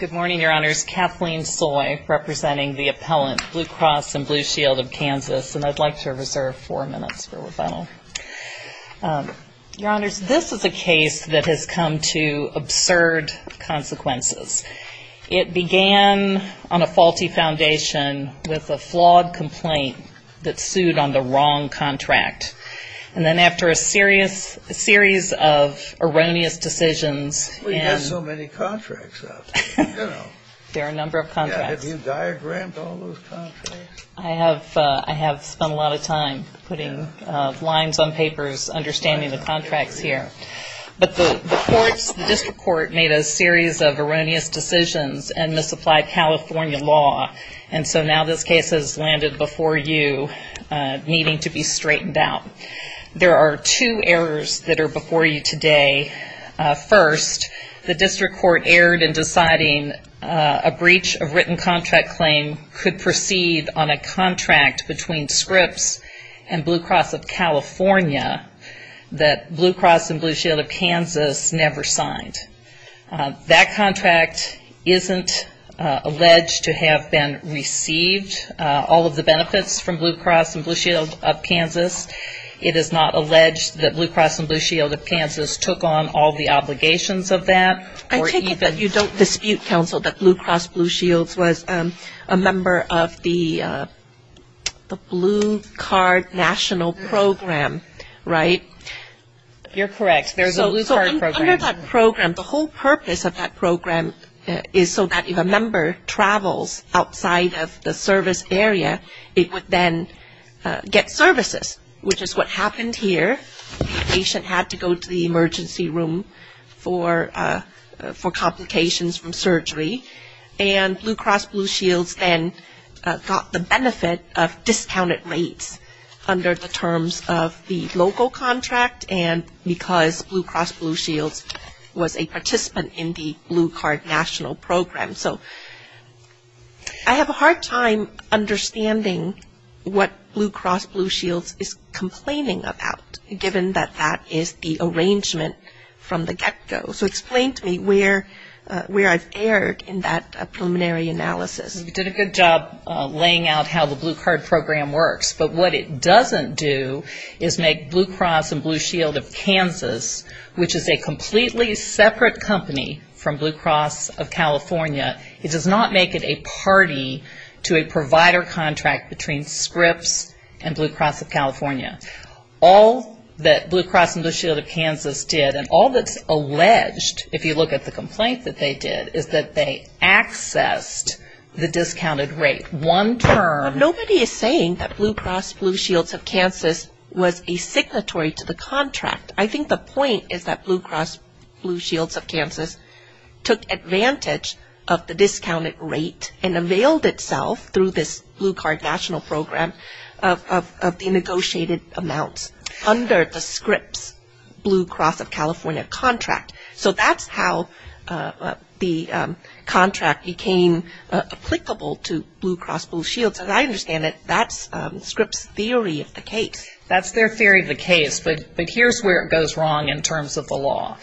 Good morning, Your Honors. Kathleen Soy representing the appellant, Blue Cross and Blue Shield of Kansas, and I'd like to reserve four minutes for rebuttal. Your Honors, this is a case that has come to absurd consequences. It began on a faulty foundation with a flawed complaint that sued on the wrong contract. And then after a series of erroneous decisions... We have so many contracts. There are a number of contracts. Have you diagrammed all those contracts? I have spent a lot of time putting lines on papers, understanding the contracts here. But the District Court made a series of erroneous decisions and misapplied California law. And so now this case has landed before you, needing to be straightened out. There are two errors that are before you today. First, the District Court erred in deciding a breach of written contract claim could proceed on a contract between Scripps and Blue Cross of California that Blue Cross and Blue Shield of Kansas never signed. That contract isn't alleged to have been received, all of the benefits from Blue Cross and Blue Shield of Kansas. It is not alleged that Blue Cross and Blue Shield of Kansas took on all the obligations of that. I take it that you don't dispute, counsel, that Blue Cross and Blue Shield was a member of the Blue Card National Program, right? You're correct. There's a Blue Card Program. So under that program, the whole purpose of that program is so that if a member travels outside of the service area, it would then get services, which is what happened here. The patient had to go to the emergency room for complications from surgery. And Blue Cross Blue Shields then got the benefit of discounted rates under the terms of the local contract and because Blue Cross Blue Shields was a participant in the Blue Card National Program. So I have a hard time understanding what Blue Cross Blue Shields is complaining about, given that that is the arrangement from the get-go. So explain to me where I've erred in that preliminary analysis. You did a good job laying out how the Blue Card Program works. But what it doesn't do is make Blue Cross and Blue Shield of Kansas, which is a completely separate company from Blue Cross of California, it does not make it a party to a provider contract between Scripps and Blue Cross of California. All that Blue Cross and Blue Shield of Kansas did and all that's alleged, if you look at the complaint that they did, is that they accessed the discounted rate one term. Nobody is saying that Blue Cross Blue Shields of Kansas was a signatory to the contract. I think the point is that Blue Cross Blue Shields of Kansas took advantage of the discounted rate and availed itself through this Blue Card National Program of the negotiated amounts under the Scripps Blue Cross of California contract. So that's how the contract became applicable to Blue Cross Blue Shields. As I understand it, that's Scripps' theory of the case. That's their theory of the case. But here's where it goes wrong in terms of the law.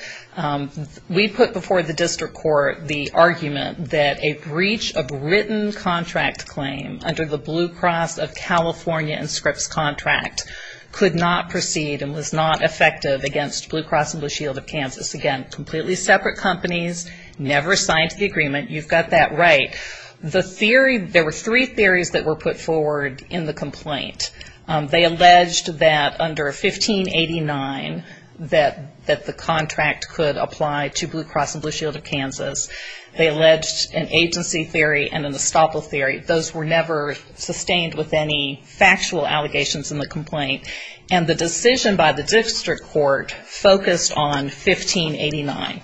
We put before the district court the argument that a breach of written contract claim under the Blue Cross of California and Scripps contract could not proceed and was not effective against Blue Cross and Blue Shield of Kansas. Again, completely separate companies, never signed to the agreement. You've got that right. The theory, there were three theories that were put forward in the complaint. They alleged that under 1589 that the contract could apply to Blue Cross and Blue Shield of Kansas. They alleged an agency theory and an estoppel theory. Those were never sustained with any factual allegations in the complaint. And the decision by the district court focused on 1589.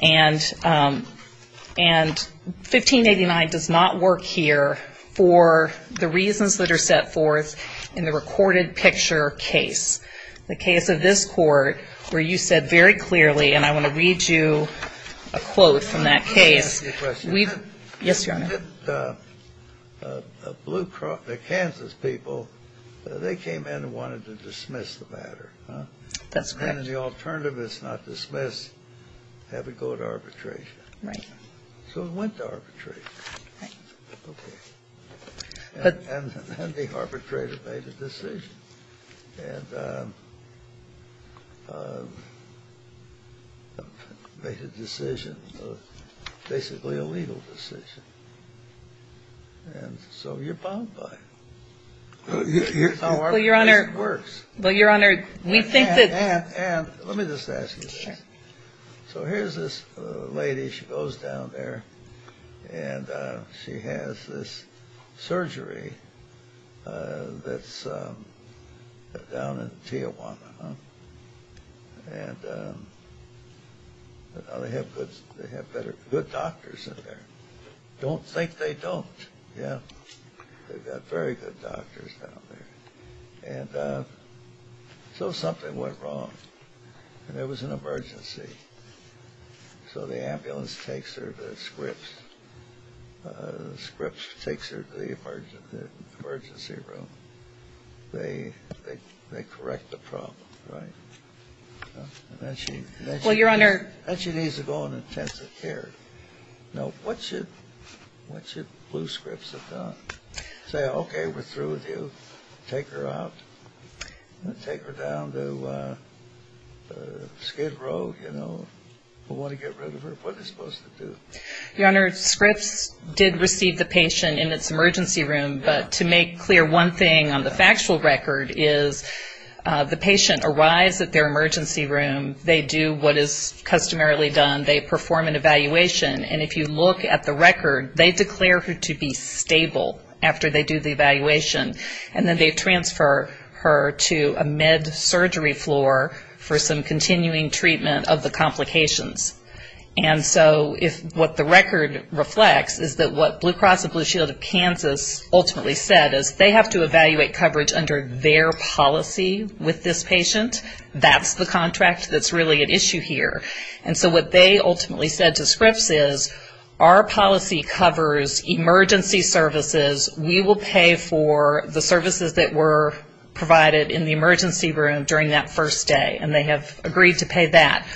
And 1589 does not work here for the reasons that are set forth in the recorded picture case. The case of this court where you said very clearly, and I want to read you a quote from that case. Let me ask you a question. Yes, Your Honor. The Kansas people, they came in and wanted to dismiss the matter. That's correct. And the alternative is not dismiss, have it go to arbitration. Right. So it went to arbitration. Right. Okay. And then the arbitrator made a decision. And made a decision, basically a legal decision. And so you're bound by it. Here's how arbitration works. Well, Your Honor, we think that. Ann, Ann, Ann, let me just ask you this. Sure. So here's this lady. She goes down there. And she has this surgery that's down in Tijuana. And they have good doctors in there. Don't think they don't. Yeah. They've got very good doctors down there. And so something went wrong. And there was an emergency. So the ambulance takes her to Scripps. Scripps takes her to the emergency room. They correct the problem. Right. And then she. Well, Your Honor. Then she needs to go on intensive care. Now, what should Blue Scripps have done? Say, okay, we're through with you. Take her out. Take her down to Skid Row, you know. We want to get rid of her. What are they supposed to do? Your Honor, Scripps did receive the patient in its emergency room. But to make clear one thing on the factual record is the patient arrives at their emergency room. They do what is customarily done. They perform an evaluation. And if you look at the record, they declare her to be stable after they do the evaluation. And then they transfer her to a med surgery floor for some continuing treatment of the complications. And so if what the record reflects is that what Blue Cross and Blue Shield of Kansas ultimately said is they have to evaluate coverage under their policy with this patient. That's the contract that's really at issue here. And so what they ultimately said to Scripps is our policy covers emergency services. We will pay for the services that were provided in the emergency room during that first day. And they have agreed to pay that.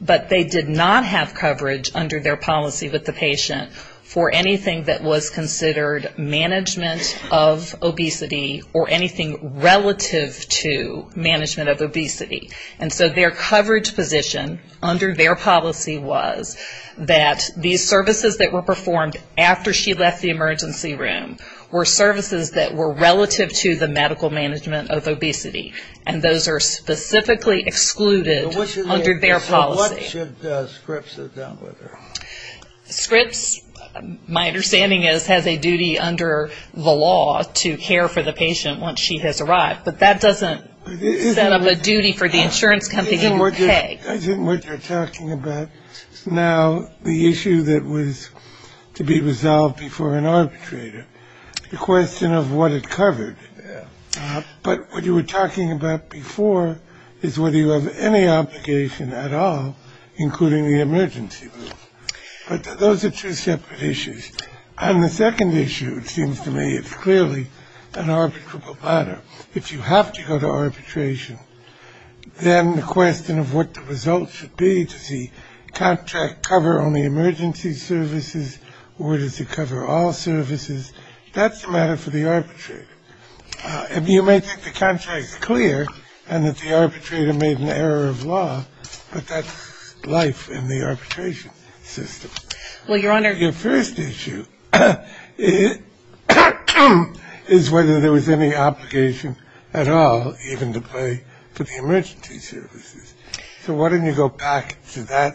But they did not have coverage under their policy with the patient for anything that was considered management of obesity or anything relative to management of obesity. And so their coverage position under their policy was that these services that were performed after she left the room were services that were relative to the medical management of obesity. And those are specifically excluded under their policy. So what should Scripps have done with her? Scripps, my understanding is, has a duty under the law to care for the patient once she has arrived. But that doesn't set up a duty for the insurance company to pay. I think what you're talking about now, the issue that was to be resolved before an arbitrator, the question of what it covered. But what you were talking about before is whether you have any obligation at all, including the emergency room. But those are two separate issues. And the second issue, it seems to me, is clearly an arbitrable matter. If you have to go to arbitration, then the question of what the result should be, does the contract cover only emergency services, or does it cover all services, that's a matter for the arbitrator. You may think the contract is clear and that the arbitrator made an error of law, but that's life in the arbitration system. Your first issue is whether there was any obligation at all, even to pay for the emergency services. So why don't you go back to that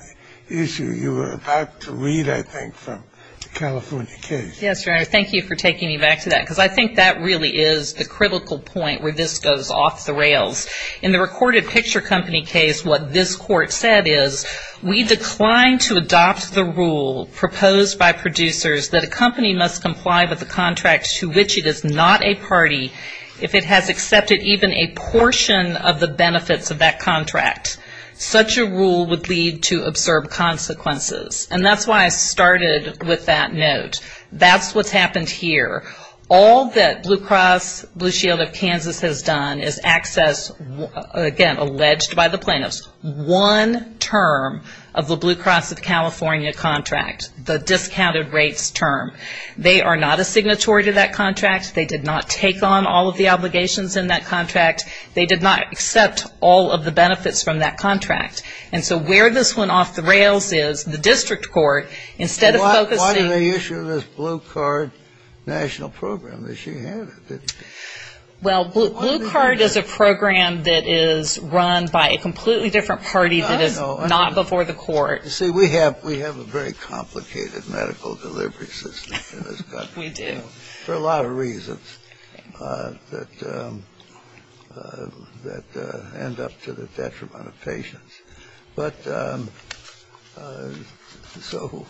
issue you were about to read, I think, from the California case. Yes, Your Honor. Thank you for taking me back to that, because I think that really is the critical point where this goes off the rails. In the recorded picture company case, what this court said is, we decline to adopt the rule proposed by producers that a company must comply with a contract to which it is not a party, if it has accepted even a portion of the benefits of that contract. Such a rule would lead to absurd consequences. And that's why I started with that note. That's what's happened here. All that Blue Cross Blue Shield of Kansas has done is access, again, alleged by the plaintiffs, one term of the Blue Cross of California contract, the discounted rates term. They are not a signatory to that contract. They did not take on all of the obligations in that contract. They did not accept all of the benefits from that contract. And so where this went off the rails is, the district court, instead of focusing on the issue of this Blue Card national program that she handed. Well, Blue Card is a program that is run by a completely different party that is not before the court. You see, we have a very complicated medical delivery system in this country. We do. For a lot of reasons that end up to the detriment of patients. But so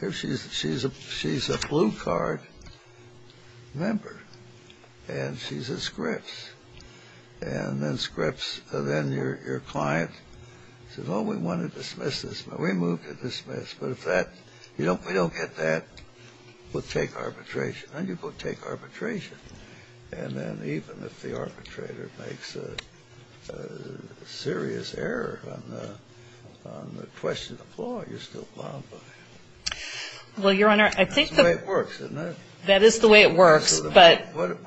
here she is. She's a Blue Card member. And she's at Scripps. And then Scripps, then your client says, oh, we want to dismiss this. We move to dismiss. But if we don't get that, we'll take arbitration. And you take arbitration. And then even if the arbitrator makes a serious error on the question of the flaw, you're still plowed by it. Well, Your Honor, I think that's the way it works. Why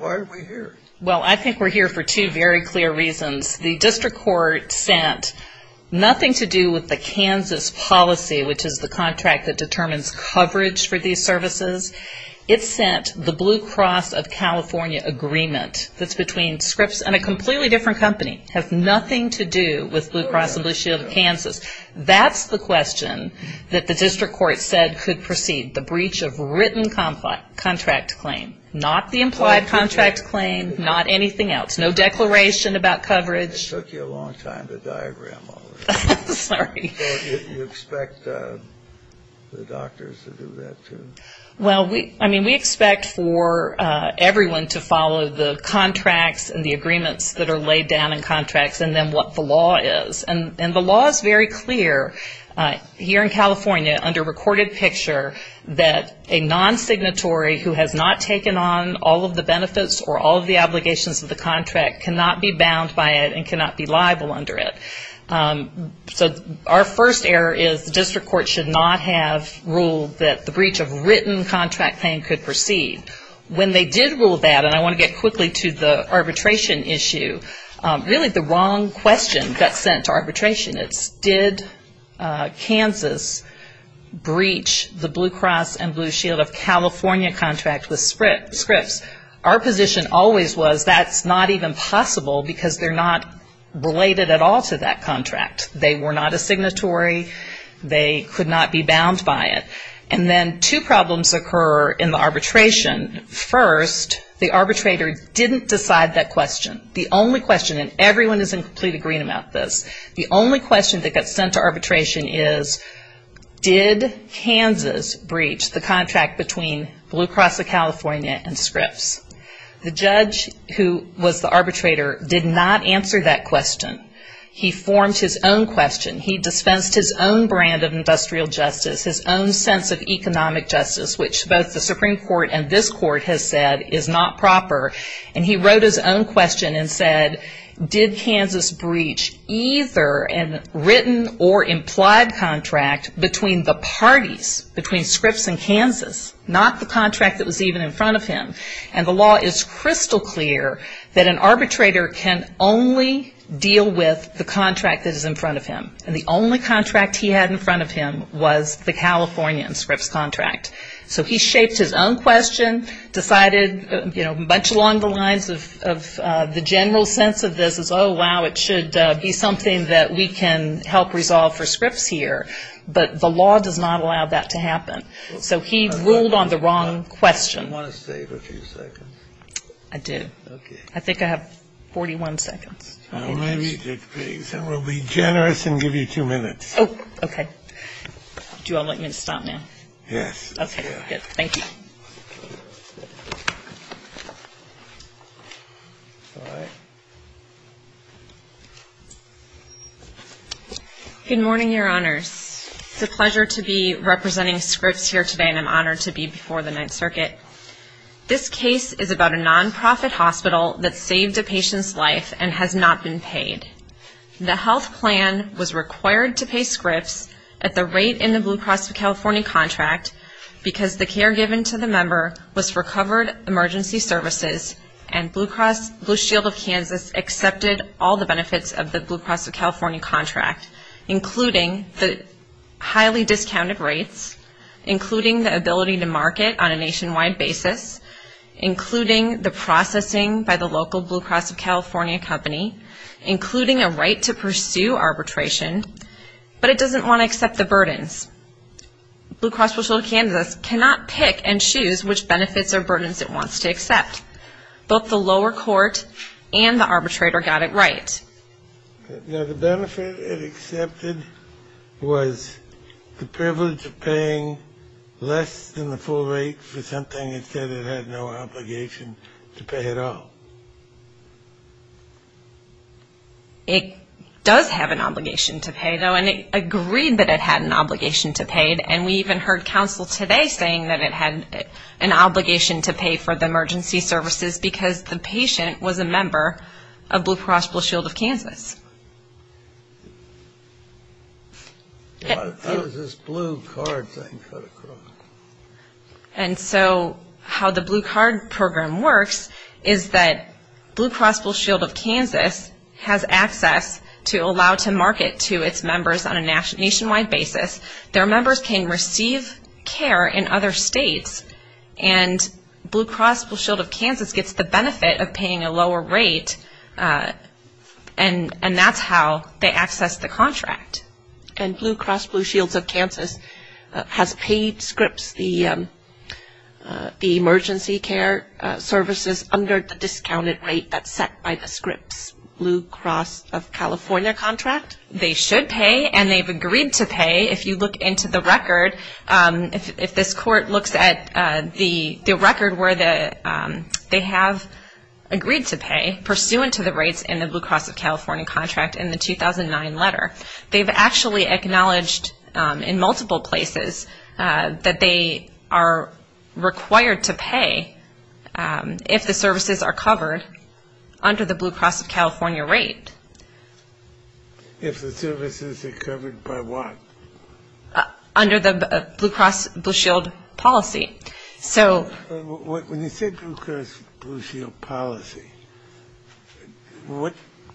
are we here? Well, I think we're here for two very clear reasons. The district court sent nothing to do with the Kansas policy, which is the contract that determines coverage for these services. It sent the Blue Cross of California agreement that's between Scripps and a completely different company. It has nothing to do with Blue Cross and Blue Shield of Kansas. That's the question that the district court said could proceed, the breach of written contract claim. Not the implied contract claim. Not anything else. No declaration about coverage. It took you a long time to diagram all this. Sorry. So you expect the doctors to do that, too? Well, I mean, we expect for everyone to follow the contracts and the agreements that are laid down in contracts and then what the law is. And the law is very clear here in California under recorded picture that a non-signatory who has not taken on all of the benefits or all of the obligations of the contract cannot be bound by it and cannot be liable under it. So our first error is the district court should not have ruled that the breach of written contract claim could proceed. When they did rule that, and I want to get quickly to the arbitration issue, really the wrong question got sent to arbitration. It's did Kansas breach the Blue Cross and Blue Shield of California contract with Scripps. Our position always was that's not even possible because they're not related at all to that contract. They were not a signatory. They could not be bound by it. And then two problems occur in the arbitration. First, the arbitrator didn't decide that question. The only question, and everyone is in complete agreement about this, the only question that got sent to arbitration is did Kansas breach the contract between Blue Cross of California and Scripps. The judge who was the arbitrator did not answer that question. He formed his own question. He dispensed his own brand of industrial justice, his own sense of economic justice, which both the Supreme Court and this court has said is not proper, and he wrote his own question and said did Kansas breach either a written or implied contract between the parties, between Scripps and Kansas, not the contract that was even in front of him. And the law is crystal clear that an arbitrator can only deal with the contract that is in front of him, and the only contract he had in front of him was the California and Scripps contract. So he shaped his own question, decided, you know, much along the lines of the general sense of this is, oh, wow, it should be something that we can help resolve for Scripps here, but the law does not allow that to happen. So he ruled on the wrong question. Do you want to stay for a few seconds? I do. Okay. I think I have 41 seconds. All right. We'll be generous and give you two minutes. Oh, okay. Do you all like me to stop now? Yes. Okay, good. Thank you. All right. Good morning, Your Honors. It's a pleasure to be representing Scripps here today, and I'm honored to be before the Ninth Circuit. This case is about a nonprofit hospital that saved a patient's life and has not been paid. The health plan was required to pay Scripps at the rate in the Blue Cross of California contract because the care given to the member was for covered emergency services and Blue Shield of Kansas accepted all the benefits of the Blue Cross of California contract, including the highly discounted rates, including the ability to market on a nationwide basis, including the processing by the local Blue Cross of California company, including a right to pursue arbitration. But it doesn't want to accept the burdens. Blue Cross Blue Shield of Kansas cannot pick and choose which benefits or burdens it wants to accept. Both the lower court and the arbitrator got it right. Now, the benefit it accepted was the privilege of paying less than the full rate for something it said it had no obligation to pay at all. It does have an obligation to pay, though, and it agreed that it had an obligation to pay, and we even heard counsel today saying that it had an obligation to pay for the emergency services because the patient was a member of Blue Cross Blue Shield of Kansas. How does this blue card thing cut across? And so how the blue card program works is that Blue Cross Blue Shield of Kansas has access to allow to market to its members on a nationwide basis. Their members can receive care in other states, and Blue Cross Blue Shield of Kansas gets the benefit of paying a lower rate, and that's how they access the contract. And Blue Cross Blue Shield of Kansas has paid Scripps the emergency care services under the discounted rate that's set by the Scripps Blue Cross of California contract? They should pay, and they've agreed to pay. If you look into the record, if this court looks at the record where they have agreed to pay pursuant to the rates in the Blue Cross of California contract in the 2009 letter, they've actually acknowledged in multiple places that they are required to pay if the services are covered under the Blue Cross of California rate. If the services are covered by what? Under the Blue Cross Blue Shield policy. When you said Blue Cross Blue Shield policy, what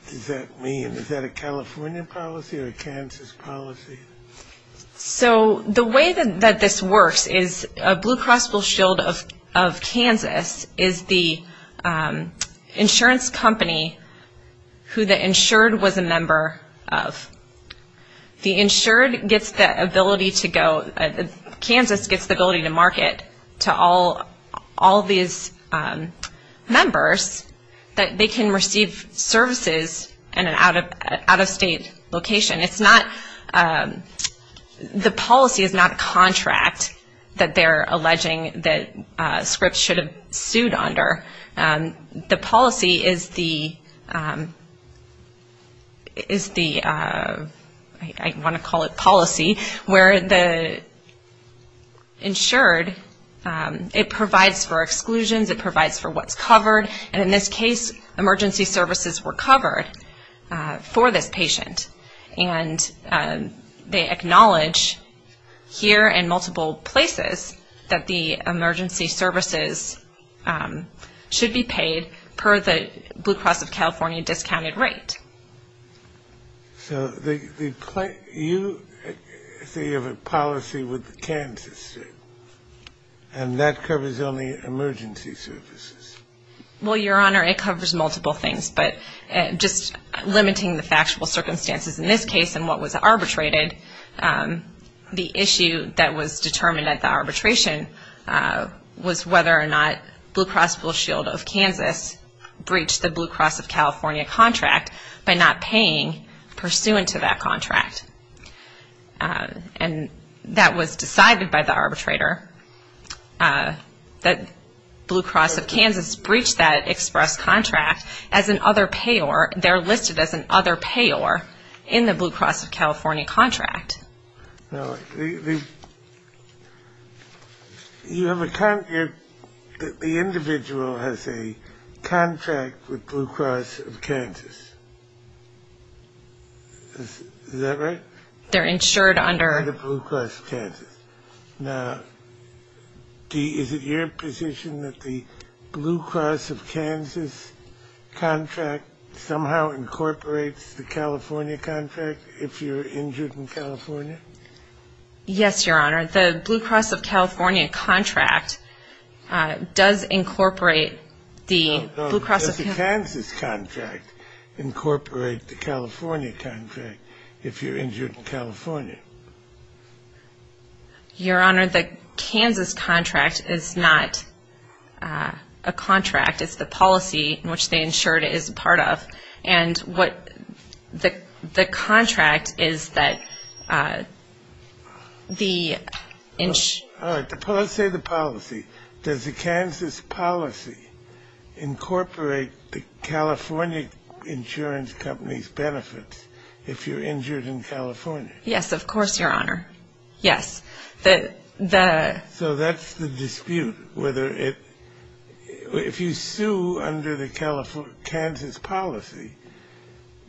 does that mean? Is that a California policy or a Kansas policy? So the way that this works is Blue Cross Blue Shield of Kansas is the insurance company who the insured was a member of. The insured gets the ability to go, Kansas gets the ability to market to all these members that they can receive services in an out-of-state location. It's not, the policy is not a contract that they're alleging that Scripps should have sued under. The policy is the, I want to call it policy, where the insured, it provides for exclusions, it provides for what's covered, and in this case, emergency services were covered for this patient. And they acknowledge here in multiple places that the emergency services should be paid per the Blue Cross of California discounted rate. So you say you have a policy with Kansas, and that covers only emergency services. Well, Your Honor, it covers multiple things, but just limiting the factual circumstances in this case and what was arbitrated, the issue that was determined at the arbitration was whether or not Blue Cross Blue Shield of Kansas breached the Blue Cross of California contract by not paying pursuant to that contract. And that was decided by the arbitrator, that Blue Cross of Kansas breached that express contract as an other payor, they're listed as an other payor in the Blue Cross of California contract. Now, you have a contract, the individual has a contract with Blue Cross of Kansas. Is that right? They're insured under. Under Blue Cross of Kansas. Now, is it your position that the Blue Cross of Kansas contract somehow incorporates the California contract if you're injured in California? Yes, Your Honor. The Blue Cross of California contract does incorporate the Blue Cross of Kansas. Does the Kansas contract incorporate the California contract if you're injured in California? Your Honor, the Kansas contract is not a contract. It's the policy in which they insured is a part of. And what the contract is that the insurance. All right. Let's say the policy. Does the Kansas policy incorporate the California insurance company's benefits if you're injured in California? Yes, of course, Your Honor. Yes. So that's the dispute whether it. If you sue under the Kansas policy,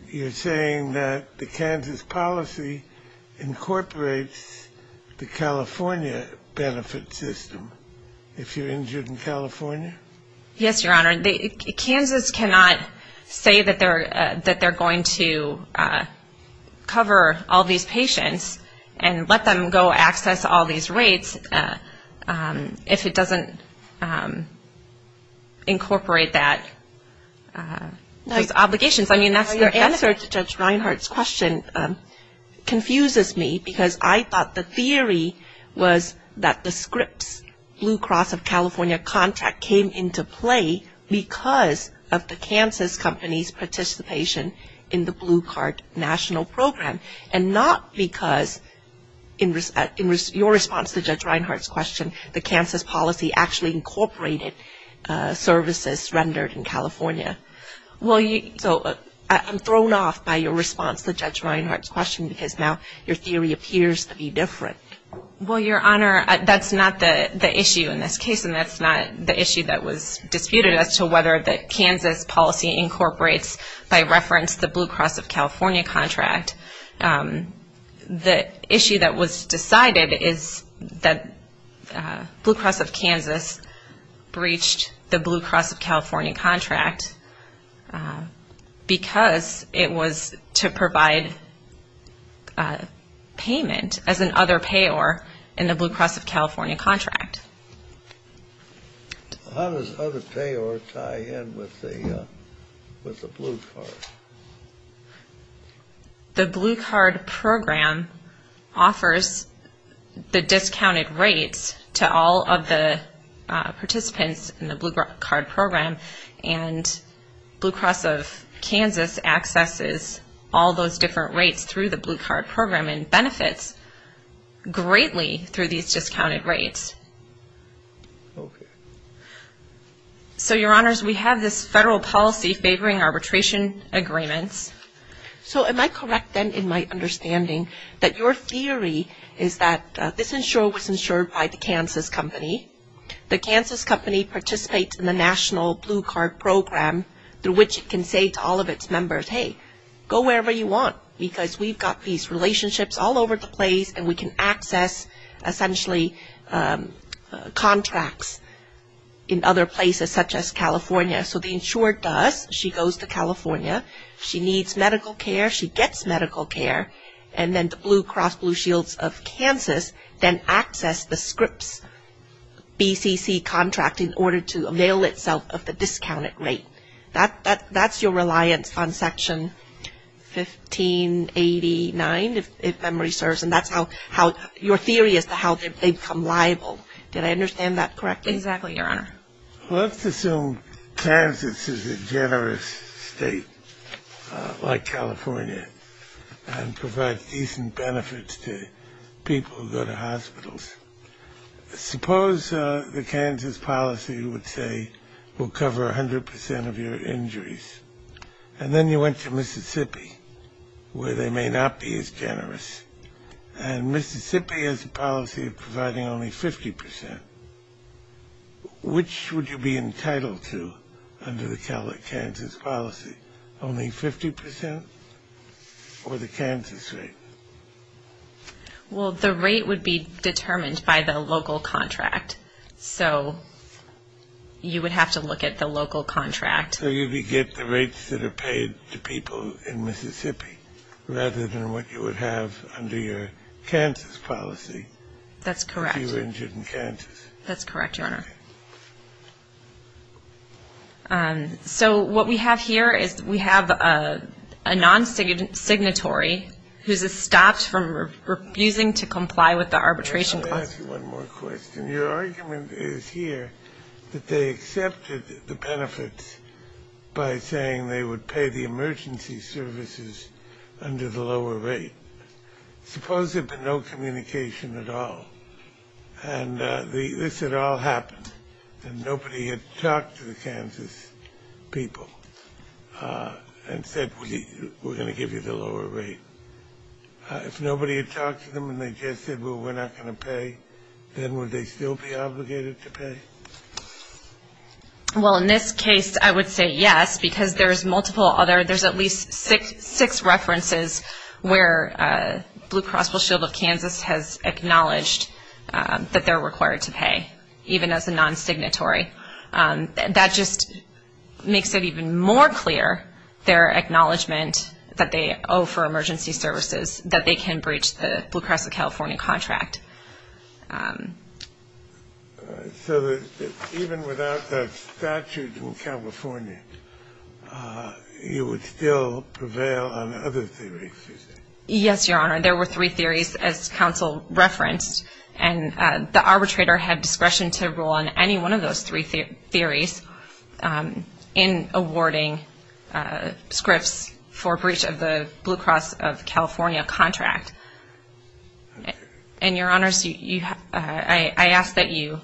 you're saying that the Kansas policy incorporates the California benefit system if you're injured in California? Yes, Your Honor. Kansas cannot say that they're going to cover all these patients and let them go access all these rates if it doesn't incorporate those obligations. Your answer to Judge Reinhart's question confuses me because I thought the theory was that the Scripps Blue Cross of California contract came into play because of the Kansas company's participation in the Blue Card National Program and not because in your response to Judge Reinhart's question, the Kansas policy actually incorporated services rendered in California. So I'm thrown off by your response to Judge Reinhart's question because now your theory appears to be different. Well, Your Honor, that's not the issue in this case, and that's not the issue that was disputed as to whether the Kansas policy incorporates, by reference, the Blue Cross of California contract. The issue that was decided is that Blue Cross of Kansas breached the Blue Cross of California contract because it was to provide payment as an other payor in the Blue Cross of California contract. How does other payor tie in with the Blue Cross? The Blue Card program offers the discounted rates to all of the participants in the Blue Card program, and Blue Cross of Kansas accesses all those different rates through the Blue Card program and benefits greatly through these discounted rates. Okay. So, Your Honors, we have this federal policy favoring arbitration agreements. So am I correct, then, in my understanding, that your theory is that this insurer was insured by the Kansas company, the Kansas company participates in the National Blue Card program through which it can say to all of its members, hey, go wherever you want because we've got these relationships all over the place and we can access, essentially, contracts in other places such as California. So the insurer does, she goes to California, she needs medical care, she gets medical care, and then the Blue Cross Blue Shields of Kansas then access the Scripps BCC contract in order to avail itself of the discounted rate. That's your reliance on Section 1589, if memory serves, and that's how your theory as to how they become liable. Did I understand that correctly? Exactly, Your Honor. Let's assume Kansas is a generous state like California and provides decent benefits to people who go to hospitals. Suppose the Kansas policy would say we'll cover 100% of your injuries, and then you went to Mississippi where they may not be as generous, and Mississippi has a policy of providing only 50%. Which would you be entitled to under the Kansas policy, only 50% or the Kansas rate? Well, the rate would be determined by the local contract, so you would have to look at the local contract. So you would get the rates that are paid to people in Mississippi rather than what you would have under your Kansas policy. That's correct. If you were injured in Kansas. That's correct, Your Honor. So what we have here is we have a non-signatory who's stopped from refusing to comply with the arbitration clause. Let me ask you one more question. Your argument is here that they accepted the benefits by saying they would pay the emergency services under the lower rate. Suppose there'd been no communication at all, and this had all happened, and nobody had talked to the Kansas people and said, we're going to give you the lower rate. If nobody had talked to them and they just said, well, we're not going to pay, then would they still be obligated to pay? Well, in this case, I would say yes, because there's multiple other, there's at least six references where Blue Cross Blue Shield of Kansas has acknowledged that they're required to pay, even as a non-signatory. That just makes it even more clear, their acknowledgment that they owe for emergency services, that they can breach the Blue Cross of California contract. So even without a statute in California, you would still prevail on other theories? Yes, Your Honor. There were three theories, as counsel referenced, and the arbitrator had discretion to rule on any one of those three theories in awarding scripts for breach of the Blue Cross of California contract. And, Your Honors, I ask that you,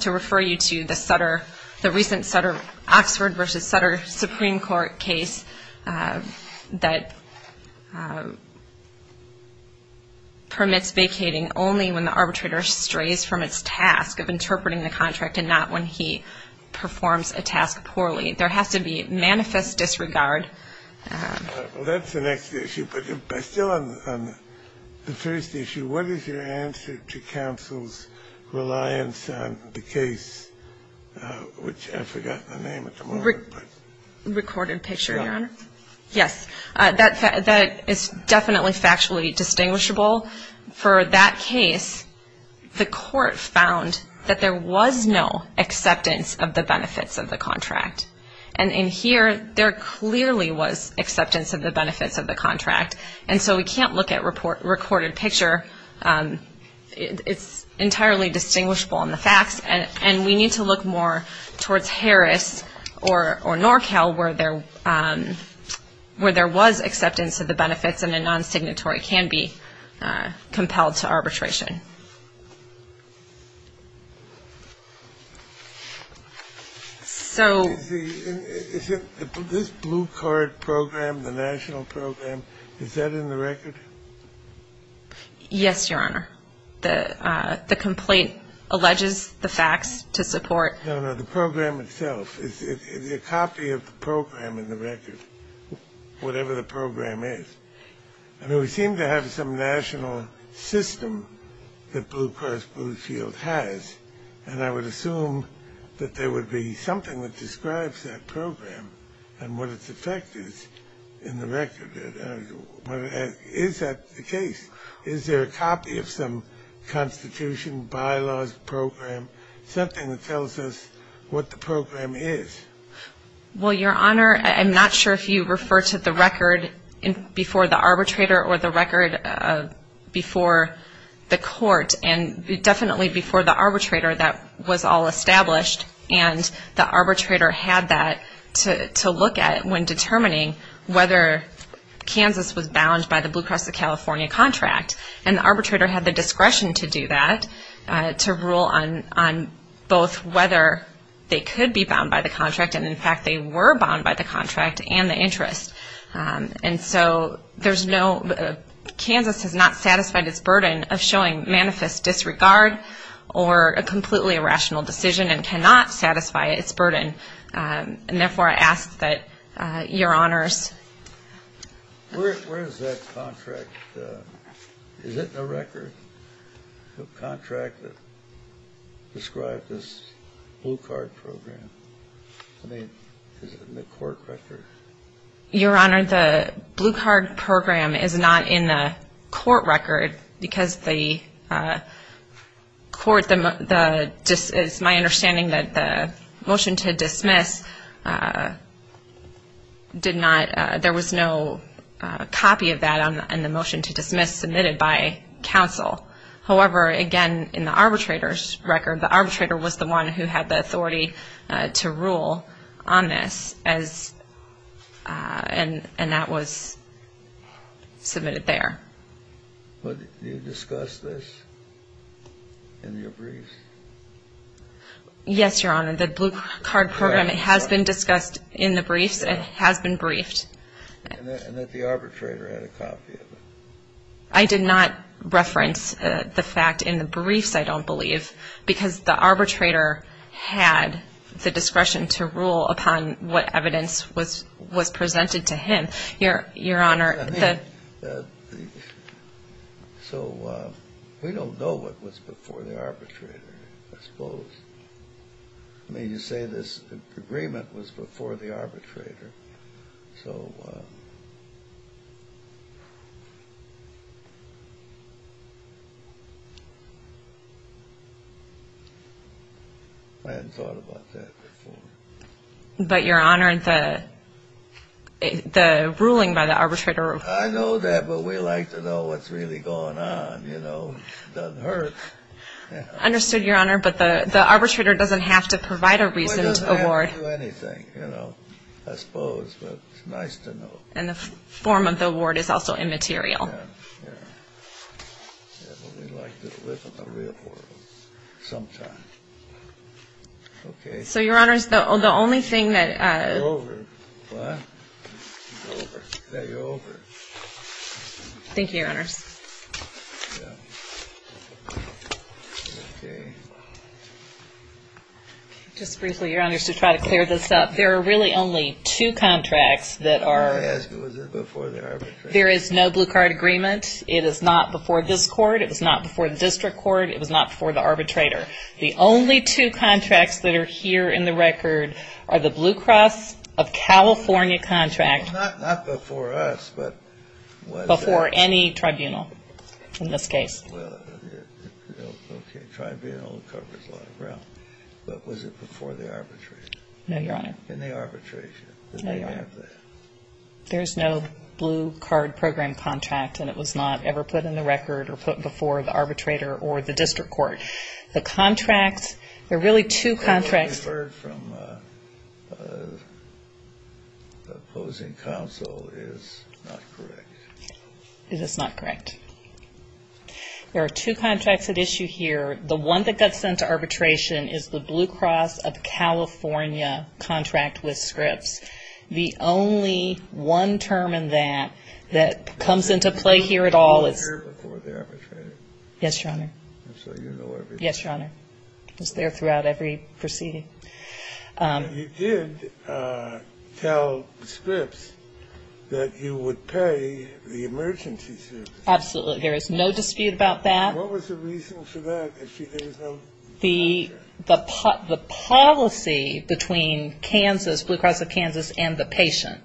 to refer you to the Sutter, the recent Sutter-Oxford v. Sutter Supreme Court case that permits vacating only when the arbitrator strays from its task of interpreting the contract and not when he performs a task poorly. There has to be manifest disregard. Well, that's the next issue, but still on the first issue, what is your answer to counsel's reliance on the case, which I've forgotten the name at the moment. Recorded picture, Your Honor. Yes. That is definitely factually distinguishable. For that case, the court found that there was no acceptance of the benefits of the contract. And in here, there clearly was acceptance of the benefits of the contract. And so we can't look at recorded picture. It's entirely distinguishable in the facts, and we need to look more towards Harris or NorCal where there was acceptance of the benefits and a non-signatory can be compelled to arbitration. So this blue card program, the national program, is that in the record? Yes, Your Honor. The complaint alleges the facts to support. No, no, the program itself. It's a copy of the program in the record, whatever the program is. I mean, we seem to have some national system that Blue Cross Blue Shield has, and I would assume that there would be something that describes that program and what its effect is in the record. Is that the case? Is there a copy of some constitution, bylaws, program, something that tells us what the program is? Well, Your Honor, I'm not sure if you refer to the record before the arbitrator or the record before the court. And definitely before the arbitrator, that was all established, and the arbitrator had that to look at when determining whether Kansas was bound by the Blue Cross of California contract. And the arbitrator had the discretion to do that, to rule on both whether they could be bound by the contract, and, in fact, they were bound by the contract and the interest. And so there's no – Kansas has not satisfied its burden of showing manifest disregard or a completely irrational decision and cannot satisfy its burden. And, therefore, I ask that Your Honors. Where is that contract? Is it in the record, the contract that described this blue card program? I mean, is it in the court record? Your Honor, the blue card program is not in the court record because the court, it's my understanding that the motion to dismiss did not – there was no copy of that in the motion to dismiss submitted by counsel. However, again, in the arbitrator's record, the arbitrator was the one who had the authority to rule on this, and that was submitted there. Do you discuss this in your briefs? Yes, Your Honor. The blue card program, it has been discussed in the briefs. It has been briefed. And that the arbitrator had a copy of it. I did not reference the fact in the briefs, I don't believe, because the arbitrator had the discretion to rule upon what evidence was presented to him. I mean, so we don't know what was before the arbitrator, I suppose. I mean, you say this agreement was before the arbitrator, so I hadn't thought about that before. But, Your Honor, the ruling by the arbitrator – I know that, but we like to know what's really going on, you know. It doesn't hurt. I understood, Your Honor, but the arbitrator doesn't have to provide a reason to award. Well, he doesn't have to do anything, you know, I suppose, but it's nice to know. And the form of the award is also immaterial. Yeah, yeah. Yeah, but we like to live in the real world sometimes. Okay. So, Your Honors, the only thing that – You're over. What? You're over. Yeah, you're over. Thank you, Your Honors. Yeah. Okay. Just briefly, Your Honors, to try to clear this up, there are really only two contracts that are – May I ask, was it before the arbitrator? There is no blue card agreement. It is not before this court. It was not before the district court. It was not before the arbitrator. The only two contracts that are here in the record are the Blue Cross of California contract – Not before us, but – Before any tribunal in this case. Well, okay, tribunal covers a lot of ground. But was it before the arbitrator? No, Your Honor. In the arbitration, did they have that? No, Your Honor. There is no blue card program contract, and it was not ever put in the record or put before the arbitrator or the district court. The contract – there are really two contracts – The one referred from the opposing counsel is not correct. It is not correct. There are two contracts at issue here. The one that got sent to arbitration is the Blue Cross of California contract with Scripps. The only one term in that that comes into play here at all is – Was it before the arbitrator? Yes, Your Honor. So you know everything. Yes, Your Honor. It was there throughout every proceeding. You did tell Scripps that you would pay the emergency services. Absolutely. There is no dispute about that. What was the reason for that? The policy between Kansas, Blue Cross of Kansas and the patient,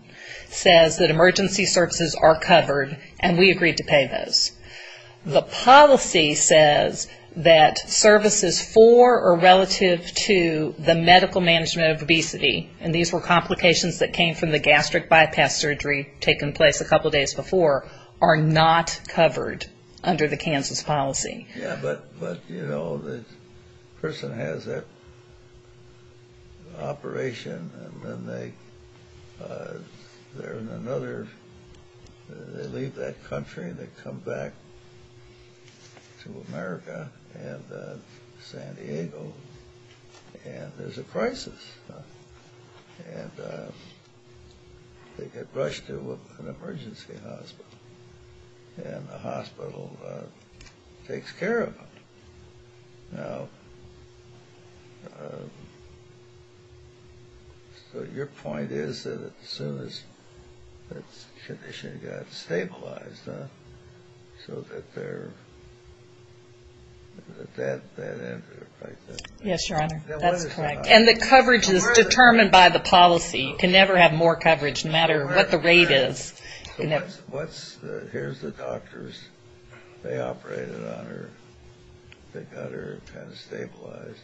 says that emergency services are covered and we agreed to pay those. The policy says that services for or relative to the medical management of obesity, and these were complications that came from the gastric bypass surgery taking place a couple of days before, are not covered under the Kansas policy. Yes, but, you know, the person has that operation, and then they're in another – they leave that country, they come back to America and San Diego, and there's a crisis. And they get rushed to an emergency hospital, and the hospital takes care of them. Now, so your point is that as soon as that condition got stabilized, huh, so that they're at that end of the crisis. Yes, Your Honor. That's correct. And the coverage is determined by the policy. You can never have more coverage no matter what the rate is. So here's the doctors. They operated on her. They got her kind of stabilized.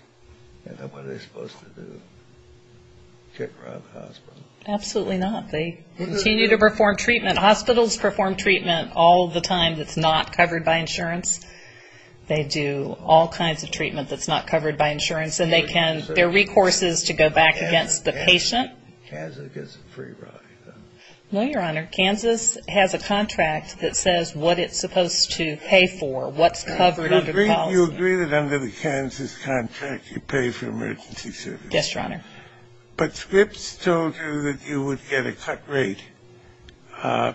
And then what are they supposed to do? Kick her out of the hospital? Absolutely not. They continue to perform treatment. Hospitals perform treatment all the time that's not covered by insurance. They do all kinds of treatment that's not covered by insurance, and they can – there are recourses to go back against the patient. Kansas gets a free ride, huh? No, Your Honor. Kansas has a contract that says what it's supposed to pay for, what's covered under the policy. You agree that under the Kansas contract you pay for emergency services. Yes, Your Honor. But Scripps told you that you would get a cut rate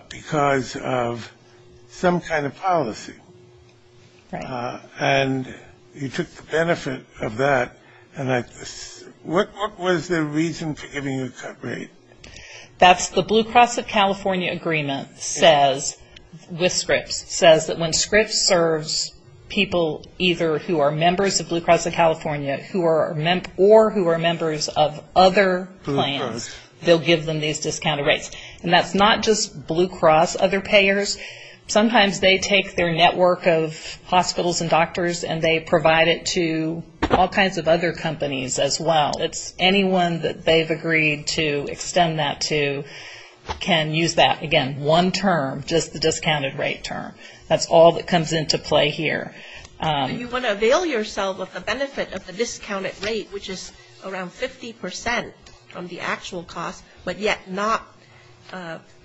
because of some kind of policy. Right. And you took the benefit of that. What was the reason for giving you a cut rate? That's the Blue Cross of California agreement says, with Scripps, says that when Scripps serves people either who are members of Blue Cross of California or who are members of other plans, they'll give them these discounted rates. And that's not just Blue Cross other payers. Sometimes they take their network of hospitals and doctors and they provide it to all kinds of other companies as well. It's anyone that they've agreed to extend that to can use that. Again, one term, just the discounted rate term. That's all that comes into play here. You want to avail yourself of the benefit of the discounted rate, which is around 50 percent from the actual cost, but yet not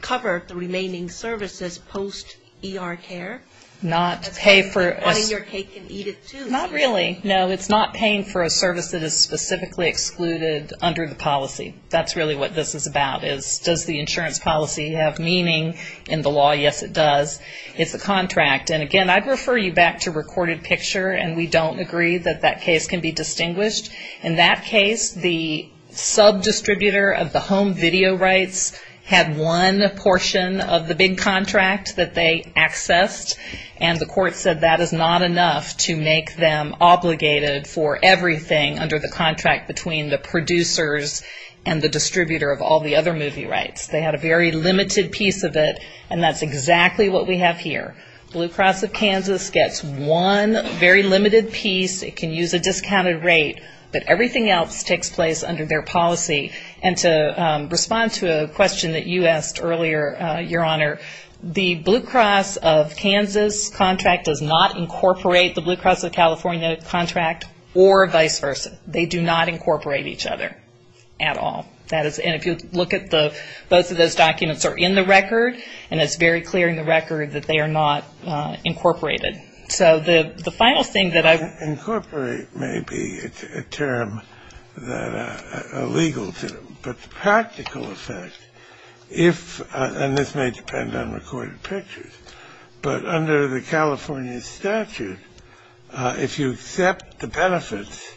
cover the remaining services post-ER care? Not pay for – That's how you can buy your cake and eat it too. Not really, no. It's not paying for a service that is specifically excluded under the policy. That's really what this is about is does the insurance policy have meaning in the law? Yes, it does. It's a contract. And again, I'd refer you back to recorded picture, and we don't agree that that case can be distinguished. In that case, the sub-distributor of the home video rights had one portion of the big contract that they accessed, and the court said that is not enough to make them obligated for everything under the contract between the producers and the distributor of all the other movie rights. They had a very limited piece of it, and that's exactly what we have here. Blue Cross of Kansas gets one very limited piece. It can use a discounted rate, but everything else takes place under their policy. And to respond to a question that you asked earlier, Your Honor, the Blue Cross of Kansas contract does not incorporate the Blue Cross of California contract or vice versa. They do not incorporate each other at all. And if you look at the ‑‑ both of those documents are in the record, and it's very clear in the record that they are not incorporated. So the final thing that I ‑‑ Incorporate may be a term that is illegal, but the practical effect, if ‑‑ and this may depend on recorded pictures, but under the California statute, if you accept the benefits,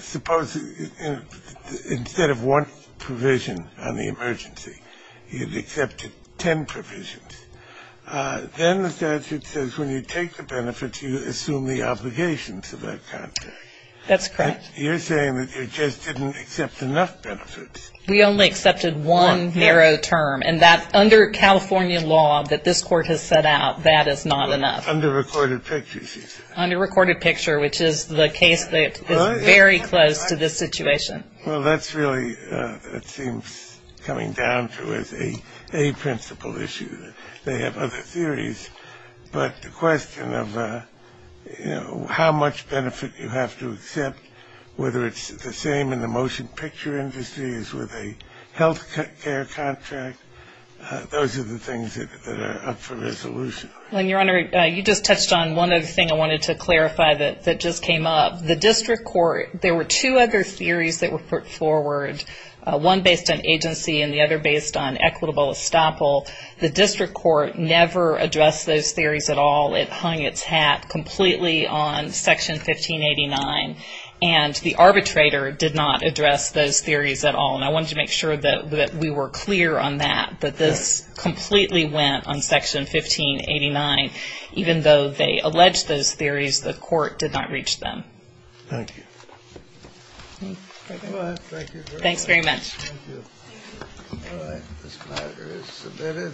suppose instead of one provision on the emergency, you've accepted ten provisions. Then the statute says when you take the benefits, you assume the obligations of that contract. That's correct. You're saying that you just didn't accept enough benefits. We only accepted one narrow term. And that under California law that this court has set out, that is not enough. Under recorded pictures, you said. Under recorded picture, which is the case that is very close to this situation. Well, that's really, it seems, coming down to as a principle issue. They have other theories. But the question of how much benefit you have to accept, whether it's the same in the motion picture industry as with a health care contract, those are the things that are up for resolution. Your Honor, you just touched on one other thing I wanted to clarify that just came up. The district court, there were two other theories that were put forward, one based on agency and the other based on equitable estoppel. The district court never addressed those theories at all. It hung its hat completely on Section 1589. And the arbitrator did not address those theories at all. And I wanted to make sure that we were clear on that, that this completely went on Section 1589. Even though they alleged those theories, the court did not reach them. Thank you. Go ahead. Thank you very much. Thanks very much. Thank you. All right. This matter is submitted.